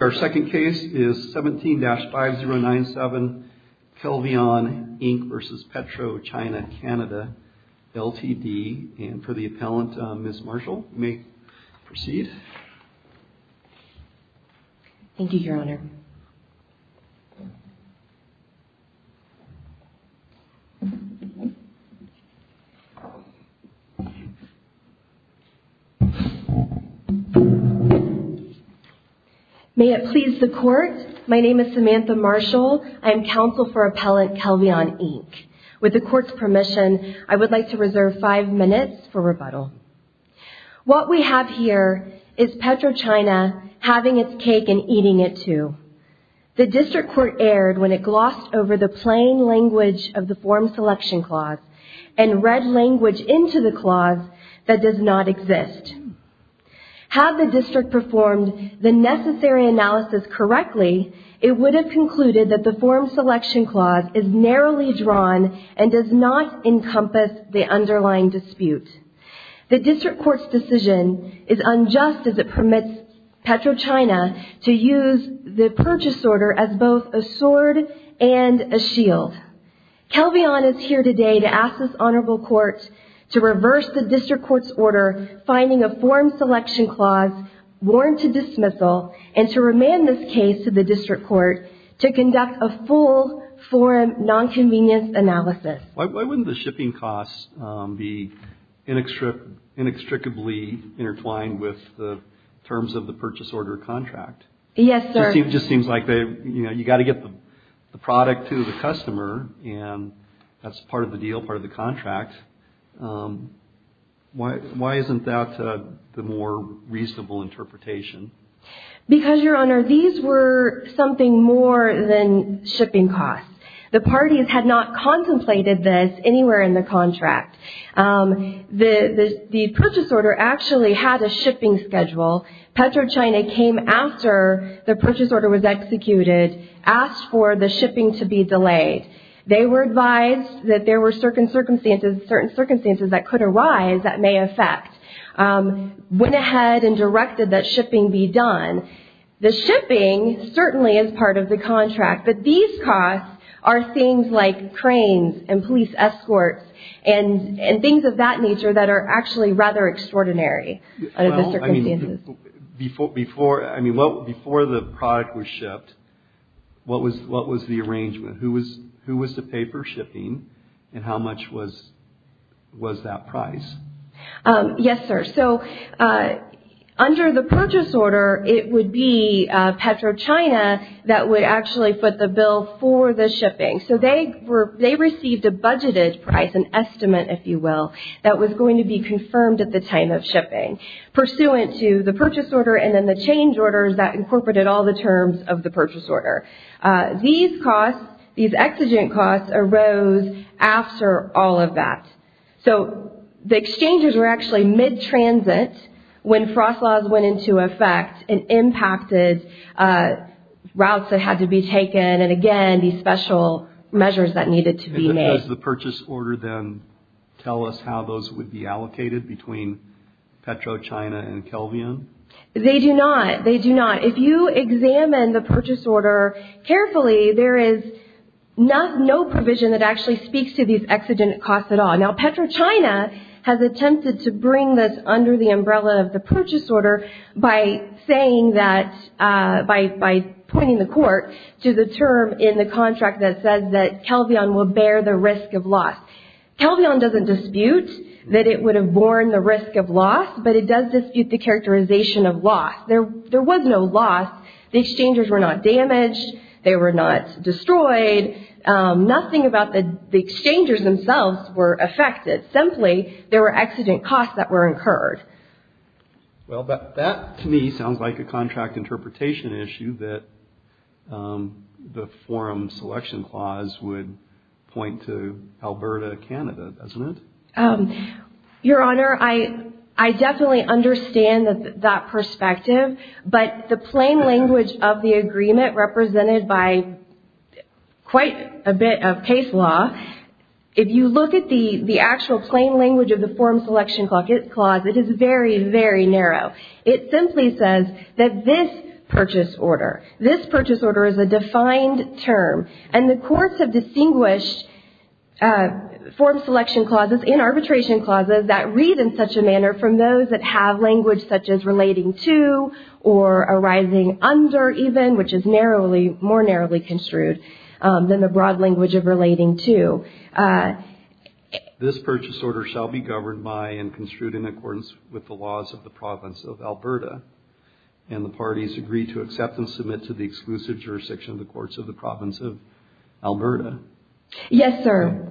And for the appellant, Ms. Marshall, you may proceed. Thank you, Your Honor. May it please the Court, my name is Samantha Marshall, I am counsel for appellant Kelvion, Inc. With the Court's permission, I would like to reserve five minutes for rebuttal. What we have here is PetroChina having its cake and eating it too. The District Court erred when it glossed over the plain language of the Form Selection Clause and read language into the clause that does not exist. Had the District performed the necessary analysis correctly, it would have concluded that the District Court's decision is unjust as it permits PetroChina to use the purchase order as both a sword and a shield. Kelvion is here today to ask this Honorable Court to reverse the District Court's order finding a Form Selection Clause warrant to dismissal and to remand this case to the District Court to conduct a full form non-convenience analysis. Why wouldn't the shipping costs be inextricably intertwined with the terms of the purchase order contract? Yes, sir. It just seems like you've got to get the product to the customer and that's part of the deal, part of the contract. Why isn't that the more reasonable interpretation? Because, Your Honor, these were something more than shipping costs. The parties had not contemplated this anywhere in the contract. The purchase order actually had a shipping schedule. PetroChina came after the purchase order was executed, asked for the shipping to be delayed. They were advised that there were certain circumstances that could arise that may affect, went ahead and directed that shipping be done. The shipping certainly is part of the contract, but these costs are things like cranes and police escorts and things of that nature that are actually rather extraordinary under the circumstances. Before the product was shipped, what was the arrangement? Who was to pay for shipping and how much was that price? Yes, sir. Under the purchase order, it would be PetroChina that would actually put the bill for the shipping. They received a budgeted price, an estimate, if you will, that was going to be confirmed at the time of shipping. Pursuant to the purchase order and then the change orders, that incorporated all the terms of the purchase order. These costs, these exigent costs, arose after all of that. The exchanges were actually mid-transit when frost laws went into effect and impacted routes that had to be taken and, again, these special measures that needed to be made. Does the purchase order then tell us how those would be allocated between PetroChina and Kelvion? They do not. They do not. If you examine the purchase order carefully, there is no provision that actually speaks to these exigent costs at all. Now, PetroChina has attempted to bring this under the umbrella of the purchase order by pointing the court to the term in the contract that says that Kelvion will bear the risk of loss. Kelvion doesn't dispute that it would have borne the risk of loss, but it does dispute the characterization of loss. There was no loss. The exchangers were not damaged. They were not destroyed. Nothing about the exchangers themselves were affected. Simply, there were exigent costs that were incurred. Well, that to me sounds like a contract interpretation issue that the forum selection clause would point to Alberta, Canada, doesn't it? Your Honor, I definitely understand that perspective, but the plain language of the agreement represented by quite a bit of case law, if you look at the actual plain language of the forum selection clause, it is very, very narrow. It simply says that this purchase order, this purchase order is a defined term, and the courts have distinguished forum selection clauses and arbitration clauses that read in such a manner from those that have language such as relating to or arising under even, which is more narrowly construed than the broad language of relating to. This purchase order shall be governed by and construed in accordance with the laws of the province of Alberta, and the parties agree to accept and submit to the exclusive jurisdiction of the courts of the province of Alberta. Yes, sir.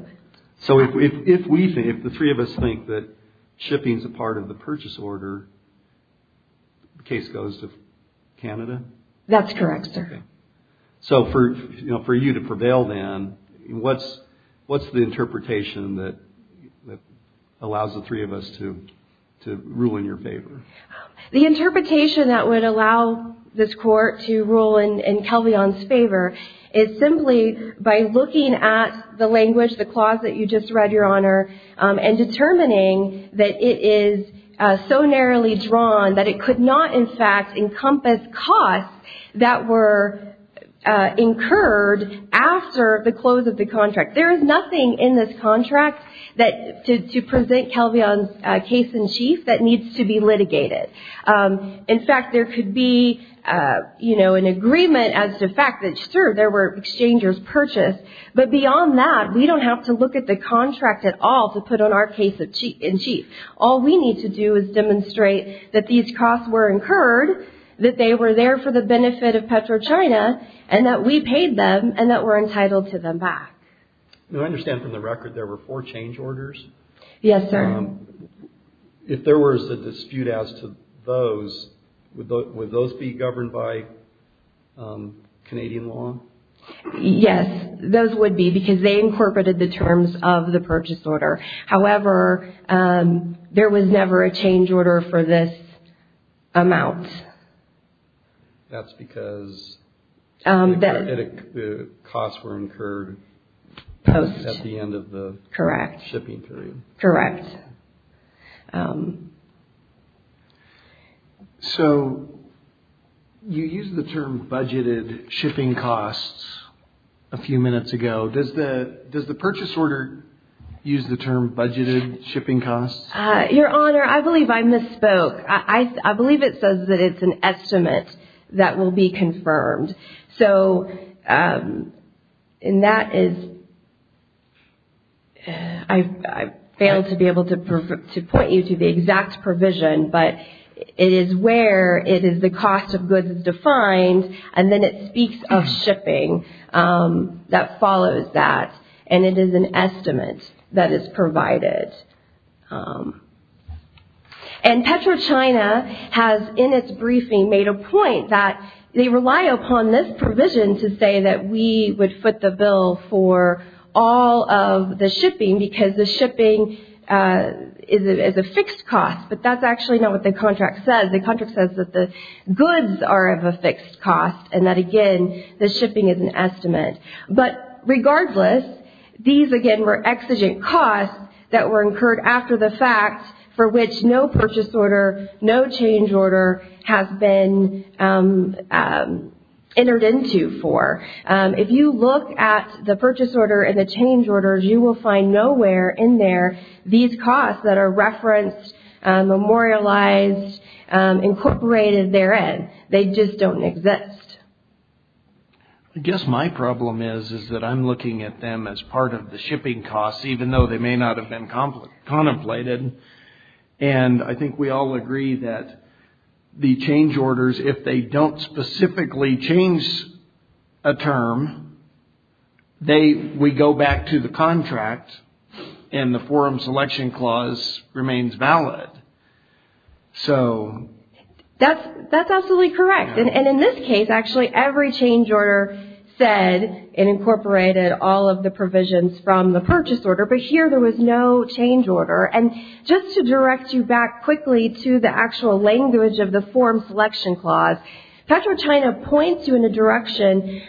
So if the three of us think that shipping is a part of the purchase order, the case goes to Canada? That's correct, sir. So for you to prevail then, what's the interpretation that allows the three of us to rule in your favor? The interpretation that would allow this court to rule in Kelvion's favor is simply by looking at the language, the clause that you just read, Your Honor, and determining that it is so narrowly drawn that it could not, in fact, encompass costs that were incurred after the close of the contract. There is nothing in this contract to present Kelvion's case in chief that needs to be litigated. In fact, there could be an agreement as to the fact that, sir, there were exchangers purchased, but beyond that, we don't have to look at the contract at all to put on our case in chief. All we need to do is demonstrate that these costs were incurred, that they were there for the benefit of PetroChina, and that we paid them, and that we're entitled to them back. Now, I understand from the record there were four change orders? Yes, sir. If there was a dispute as to those, would those be governed by Canadian law? Yes, those would be because they incorporated the terms of the purchase order. However, there was never a change order for this amount. That's because the costs were incurred at the end of the shipping period. Correct. So you used the term budgeted shipping costs a few minutes ago. Does the purchase order use the term budgeted shipping costs? Your Honor, I believe I misspoke. I believe it says that it's an estimate that will be confirmed. So, and that is, I failed to be able to point you to the exact provision, but it is where it is the cost of goods is defined, and then it speaks of shipping that follows that, and it is an estimate that is provided. And PetroChina has, in its briefing, made a point that they rely upon this provision to say that we would foot the bill for all of the shipping because the shipping is a fixed cost, but that's actually not what the contract says. The contract says that the goods are of a fixed cost, and that, again, the shipping is an estimate. But regardless, these, again, were exigent costs that were incurred after the fact for which no purchase order, no change order has been entered into for. If you look at the purchase order and the change orders, you will find nowhere in there these costs that are referenced, memorialized, incorporated therein. They just don't exist. I guess my problem is that I'm looking at them as part of the shipping costs, even though they may not have been contemplated, and I think we all agree that the change orders, if they don't specifically change a term, we go back to the contract, and the forum selection clause remains valid. So... That's absolutely correct. And in this case, actually, every change order said and incorporated all of the provisions from the purchase order, but here there was no change order. And just to direct you back quickly to the actual language of the forum selection clause, PetroChina points you in a direction,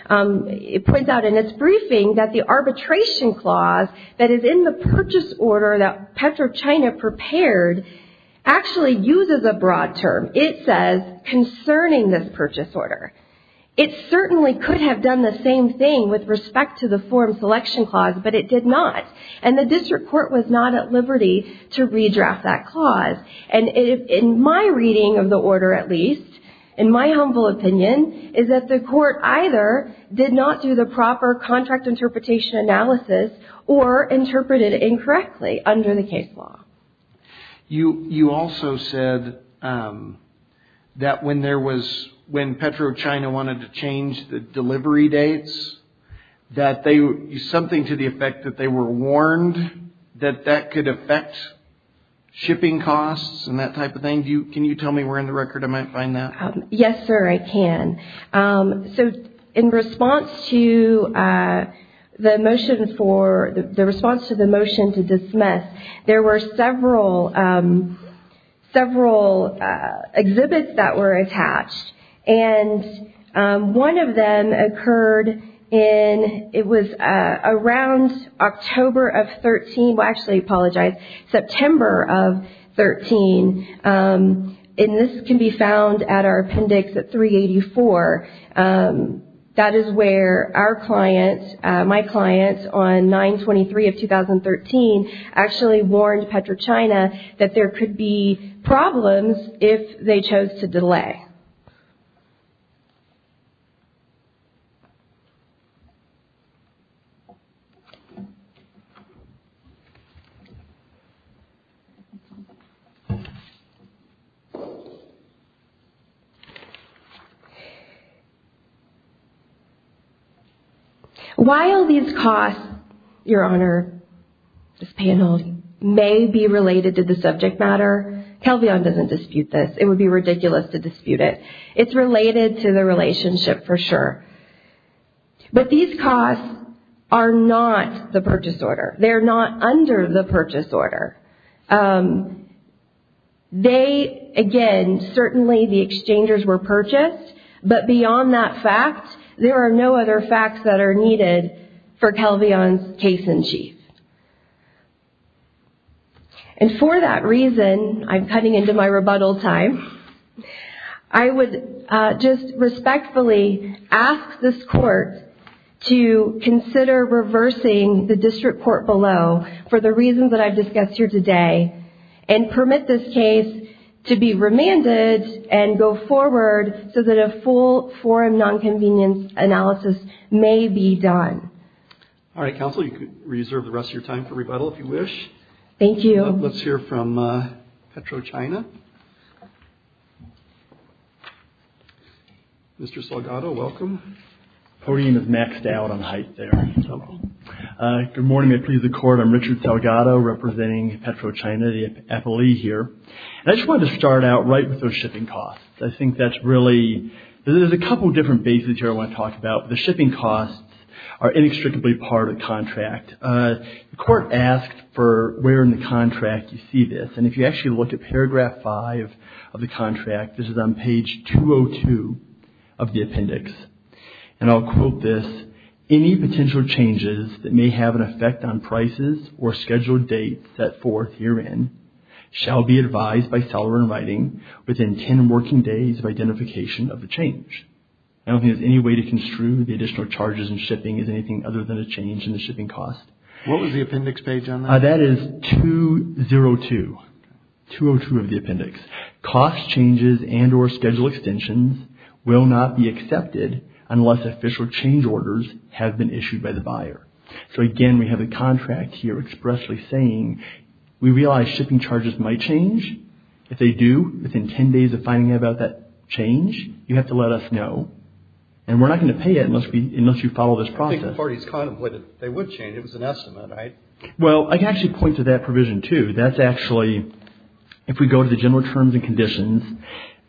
it points out in its briefing that the arbitration clause that is in the purchase order that PetroChina prepared actually uses a broad term. It says, concerning this purchase order. It certainly could have done the same thing with respect to the forum selection clause, but it did not. And the district court was not at liberty to redraft that clause. And in my reading of the order, at least, in my humble opinion, is that the court either did not do the proper contract interpretation analysis or interpreted it incorrectly under the case law. You also said that when PetroChina wanted to change the delivery dates, something to the effect that they were warned that that could affect shipping costs and that type of thing. Can you tell me where in the record I might find that? Yes, sir, I can. So, in response to the motion for, the response to the motion to dismiss, there were several, several exhibits that were attached. And one of them occurred in, it was around October of 13, well, actually, I apologize, September of 13. And this can be found at our appendix at 384. That is where our client, my client, on 9-23 of 2013, actually warned PetroChina that there could be problems if they chose to delay. While these costs, Your Honor, this panel may be related to the subject matter, Calveon doesn't dispute this. It would be ridiculous to dispute it. It's related to the relationship for sure. But these costs are not the purchase order. They're not under the purchase order. They, again, certainly the exchangers were purchased. But beyond that fact, there are no other facts that are needed for Calveon's case-in-chief. And for that reason, I'm cutting into my rebuttal time, I would just respectfully ask this Court to consider reversing the district court below for the reasons that I've discussed here today, and permit this case to be remanded and go forward so that a full forum nonconvenience analysis may be done. All right, Counsel, you can reserve the rest of your time for rebuttal if you wish. Thank you. Let's hear from PetroChina. Mr. Salgado, welcome. The podium has maxed out on height there. Good morning. May it please the Court. I'm Richard Salgado representing PetroChina, the FLE here. And I just wanted to start out right with those shipping costs. I think that's really – there's a couple different bases here I want to talk about. The shipping costs are inextricably part of the contract. The Court asked for where in the contract you see this. And if you actually look at paragraph 5 of the contract, this is on page 202 of the appendix. And I'll quote this, I don't think there's any way to construe the additional charges in shipping as anything other than a change in the shipping cost. What was the appendix page on that? That is 202, 202 of the appendix. unless official change orders have been issued by the buyer. So, again, we have a contract here expressly saying we realize shipping charges might change. If they do, within 10 days of finding out about that change, you have to let us know. And we're not going to pay it unless you follow this process. I think the parties contemplated they would change. It was an estimate, right? Well, I can actually point to that provision too. That's actually – if we go to the general terms and conditions,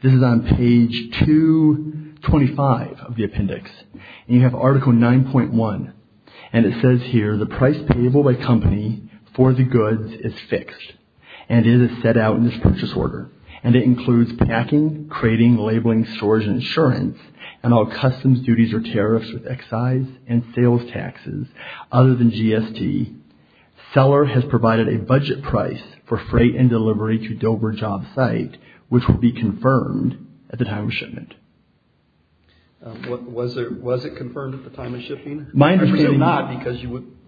this is on page 225 of the appendix. And you have article 9.1. And it says here, at the time of shipment. Was it confirmed at the time of shipping? I presume not because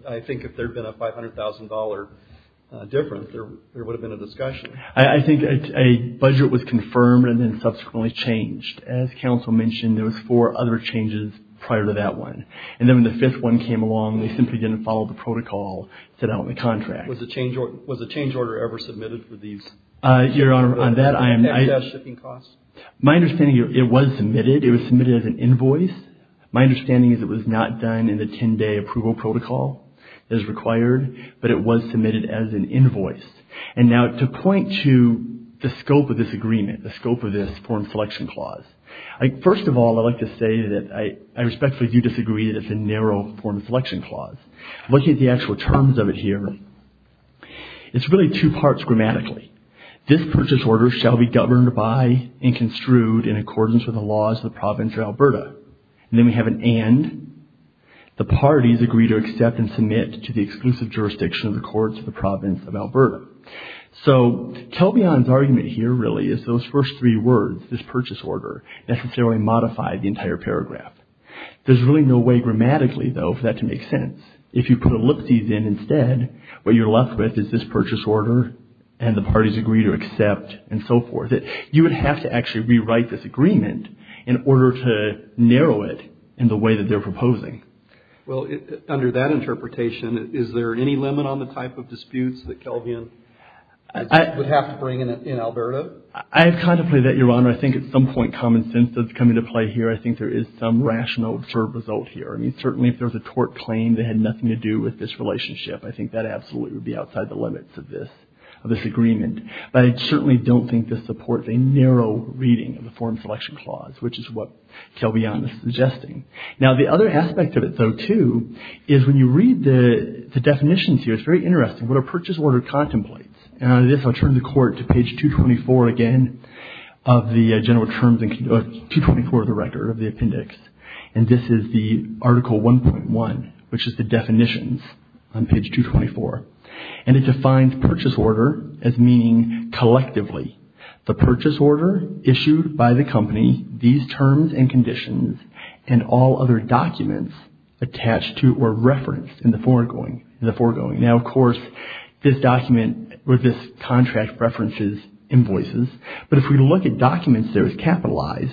I think if there had been a $500,000 difference, there would have been a discussion. I think a budget was confirmed and then subsequently changed. As counsel mentioned, there was four other changes prior to that one. And then when the fifth one came along, they simply didn't follow the protocol set out in the contract. Was a change order ever submitted for these? Your Honor, on that, I am not – My understanding, it was submitted. It was submitted as an invoice. My understanding is it was not done in the 10-day approval protocol as required, but it was submitted as an invoice. And now to point to the scope of this agreement, the scope of this foreign selection clause, first of all, I'd like to say that I respectfully do disagree that it's a narrow foreign selection clause. Looking at the actual terms of it here, It's really two parts grammatically. This purchase order shall be governed by and construed in accordance with the laws of the province of Alberta. And then we have an and. The parties agree to accept and submit to the exclusive jurisdiction of the courts of the province of Alberta. So, Telvion's argument here really is those first three words, this purchase order, necessarily modify the entire paragraph. There's really no way grammatically, though, for that to make sense. If you put ellipses in instead, what you're left with is this purchase order and the parties agree to accept and so forth. You would have to actually rewrite this agreement in order to narrow it in the way that they're proposing. Well, under that interpretation, is there any limit on the type of disputes that Telvion would have to bring in Alberta? I've contemplated that, Your Honor. I think at some point common sense does come into play here. I think there is some rational observed result here. I mean, certainly if there was a tort claim that had nothing to do with this relationship, I think that absolutely would be outside the limits of this agreement. But I certainly don't think this supports a narrow reading of the form selection clause, which is what Telvion is suggesting. Now, the other aspect of it, though, too, is when you read the definitions here, it's very interesting. What are purchase order contemplates? And this, I'll turn the Court to page 224 again of the general terms, 224 of the record, of the appendix. And this is the Article 1.1, which is the definitions on page 224. And it defines purchase order as meaning collectively. The purchase order issued by the company, these terms and conditions, and all other documents attached to or referenced in the foregoing. Now, of course, this document or this contract references invoices. But if we look at documents there, it's capitalized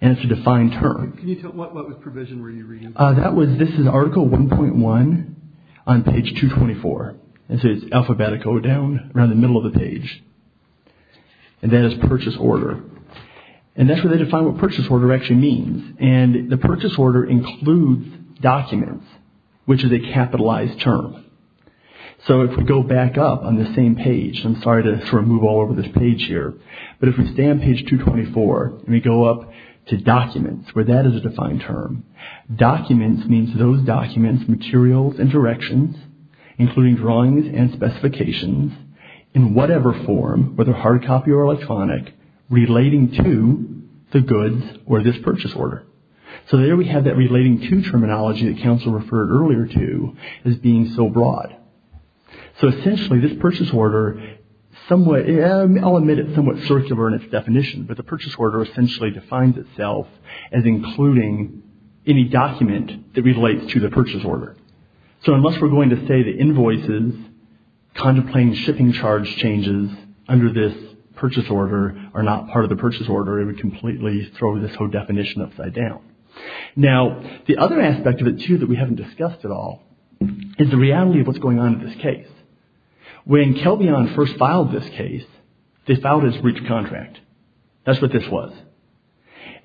and it's a defined term. What provision were you reading? This is Article 1.1 on page 224. And so it's alphabetical down around the middle of the page. And that is purchase order. And that's where they define what purchase order actually means. And the purchase order includes documents, which is a capitalized term. So if we go back up on the same page, I'm sorry to sort of move all over this page here. But if we stay on page 224 and we go up to documents, where that is a defined term. Documents means those documents, materials, and directions, including drawings and specifications, in whatever form, whether hard copy or electronic, relating to the goods or this purchase order. So there we have that relating to terminology that Council referred earlier to as being so broad. So essentially, this purchase order somewhat, I'll admit it's somewhat circular in its definition, but the purchase order essentially defines itself as including any document that relates to the purchase order. So unless we're going to say the invoices, contemplating shipping charge changes under this purchase order are not part of the purchase order, it would completely throw this whole definition upside down. Now, the other aspect of it, too, that we haven't discussed at all is the reality of what's going on in this case. When Kelvion first filed this case, they filed his breach of contract. That's what this was.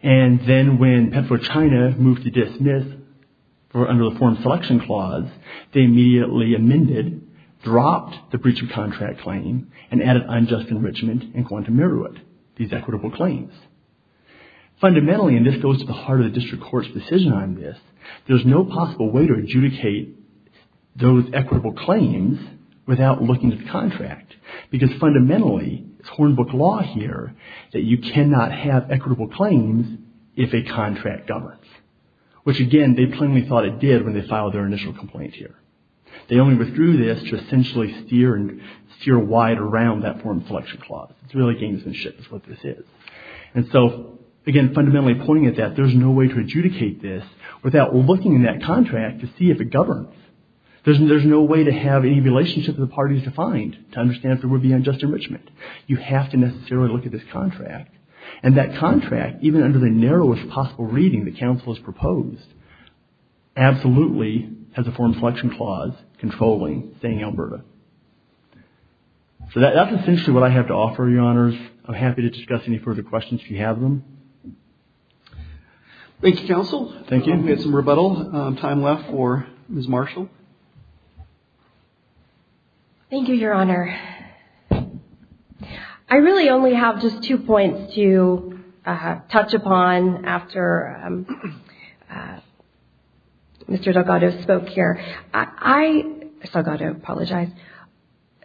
And then when Petro China moved to dismiss, or under the Foreign Selection Clause, they immediately amended, dropped the breach of contract claim, and added unjust enrichment and quantum merit, these equitable claims. Fundamentally, and this goes to the heart of the district court's decision on this, there's no possible way to adjudicate those equitable claims without looking at the contract. Because fundamentally, it's Hornbook law here that you cannot have equitable claims if a contract governs. Which, again, they plainly thought it did when they filed their initial complaint here. They only withdrew this to essentially steer wide around that Foreign Selection Clause. It's really games and shit is what this is. And so, again, fundamentally pointing at that, there's no way to adjudicate this without looking in that contract to see if it governs. There's no way to have any relationship to the parties defined to understand if there would be unjust enrichment. You have to necessarily look at this contract. And that contract, even under the narrowest possible reading the counsel has proposed, absolutely has a Foreign Selection Clause controlling saying Alberta. So that's essentially what I have to offer, Your Honors. I'm happy to discuss any further questions if you have them. Thank you, Counsel. Thank you. We have some rebuttal time left for Ms. Marshall. Thank you, Your Honor. I really only have just two points to touch upon after Mr. Delgado spoke here. I, if I've got to apologize,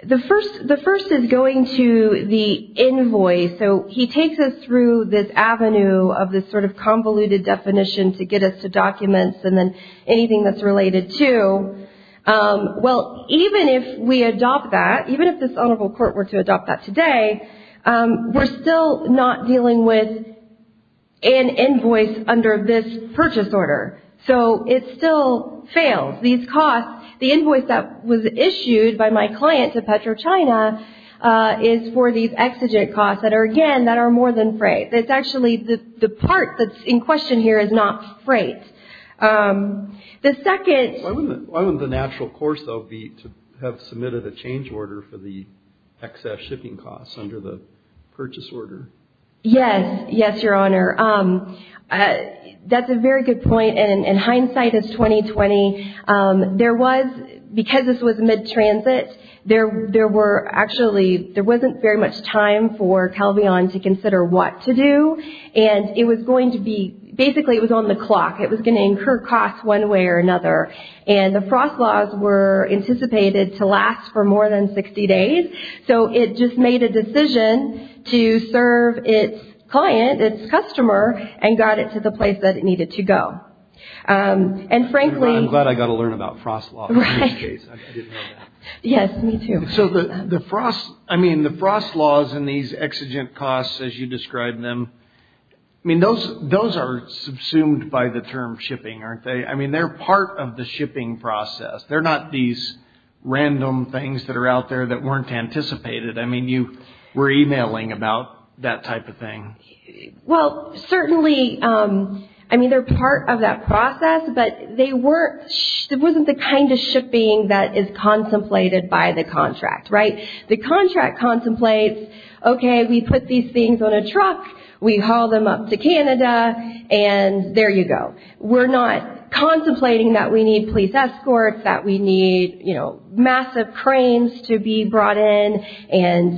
the first is going to the invoice. So he takes us through this avenue of this sort of convoluted definition to get us to documents and then anything that's related to. Well, even if we adopt that, even if this Honorable Court were to adopt that today, we're still not dealing with an invoice under this purchase order. So it still fails. These costs, the invoice that was issued by my client to PetroChina is for these exigent costs that are, again, that are more than freight. It's actually the part that's in question here is not freight. The second. Why wouldn't the natural course, though, be to have submitted a change order for the excess shipping costs under the purchase order? Yes. Yes, Your Honor. That's a very good point, and hindsight is 20-20. There was, because this was mid-transit, there were actually, there wasn't very much time for Calvion to consider what to do, and it was going to be, basically it was on the clock. It was going to incur costs one way or another, and the frost laws were anticipated to last for more than 60 days. So it just made a decision to serve its client, its customer, and got it to the place that it needed to go. And frankly. Your Honor, I'm glad I got to learn about frost law. Right. I didn't know that. Yes, me too. So the frost, I mean, the frost laws and these exigent costs as you describe them, I mean, those are subsumed by the term shipping, aren't they? I mean, they're part of the shipping process. They're not these random things that are out there that weren't anticipated. I mean, you were emailing about that type of thing. Well, certainly, I mean, they're part of that process, but they weren't, it wasn't the kind of shipping that is contemplated by the contract, right? The contract contemplates, okay, we put these things on a truck, we haul them up to Canada, and there you go. We're not contemplating that we need police escorts, that we need, you know, massive cranes to be brought in.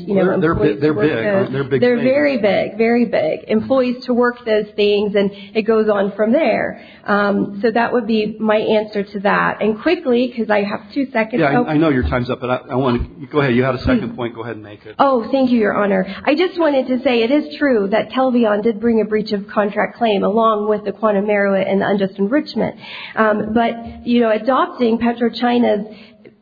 They're big. They're very big, very big. Employees to work those things, and it goes on from there. So that would be my answer to that. And quickly, because I have two seconds. Yeah, I know your time's up, but I want to go ahead. You had a second point. Go ahead and make it. Oh, thank you, Your Honor. I just wanted to say it is true that Telvion did bring a breach of contract claim, along with the quantum merit and the unjust enrichment. But, you know, adopting PetroChina's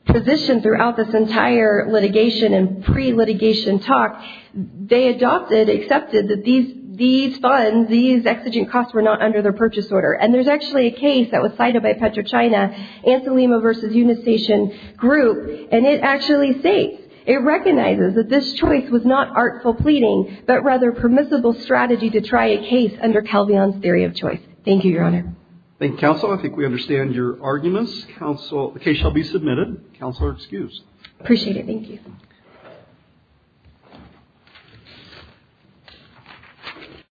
position throughout this entire litigation and pre-litigation talk, they adopted, accepted that these funds, these exigent costs were not under their purchase order. And there's actually a case that was cited by PetroChina, Anselima v. Unistation Group, and it actually states, it recognizes that this choice was not artful pleading, but rather permissible strategy to try a case under Telvion's theory of choice. Thank you, Your Honor. Thank you, Counsel. I think we understand your arguments. Counsel, the case shall be submitted. Counsel are excused. Appreciate it. Thank you.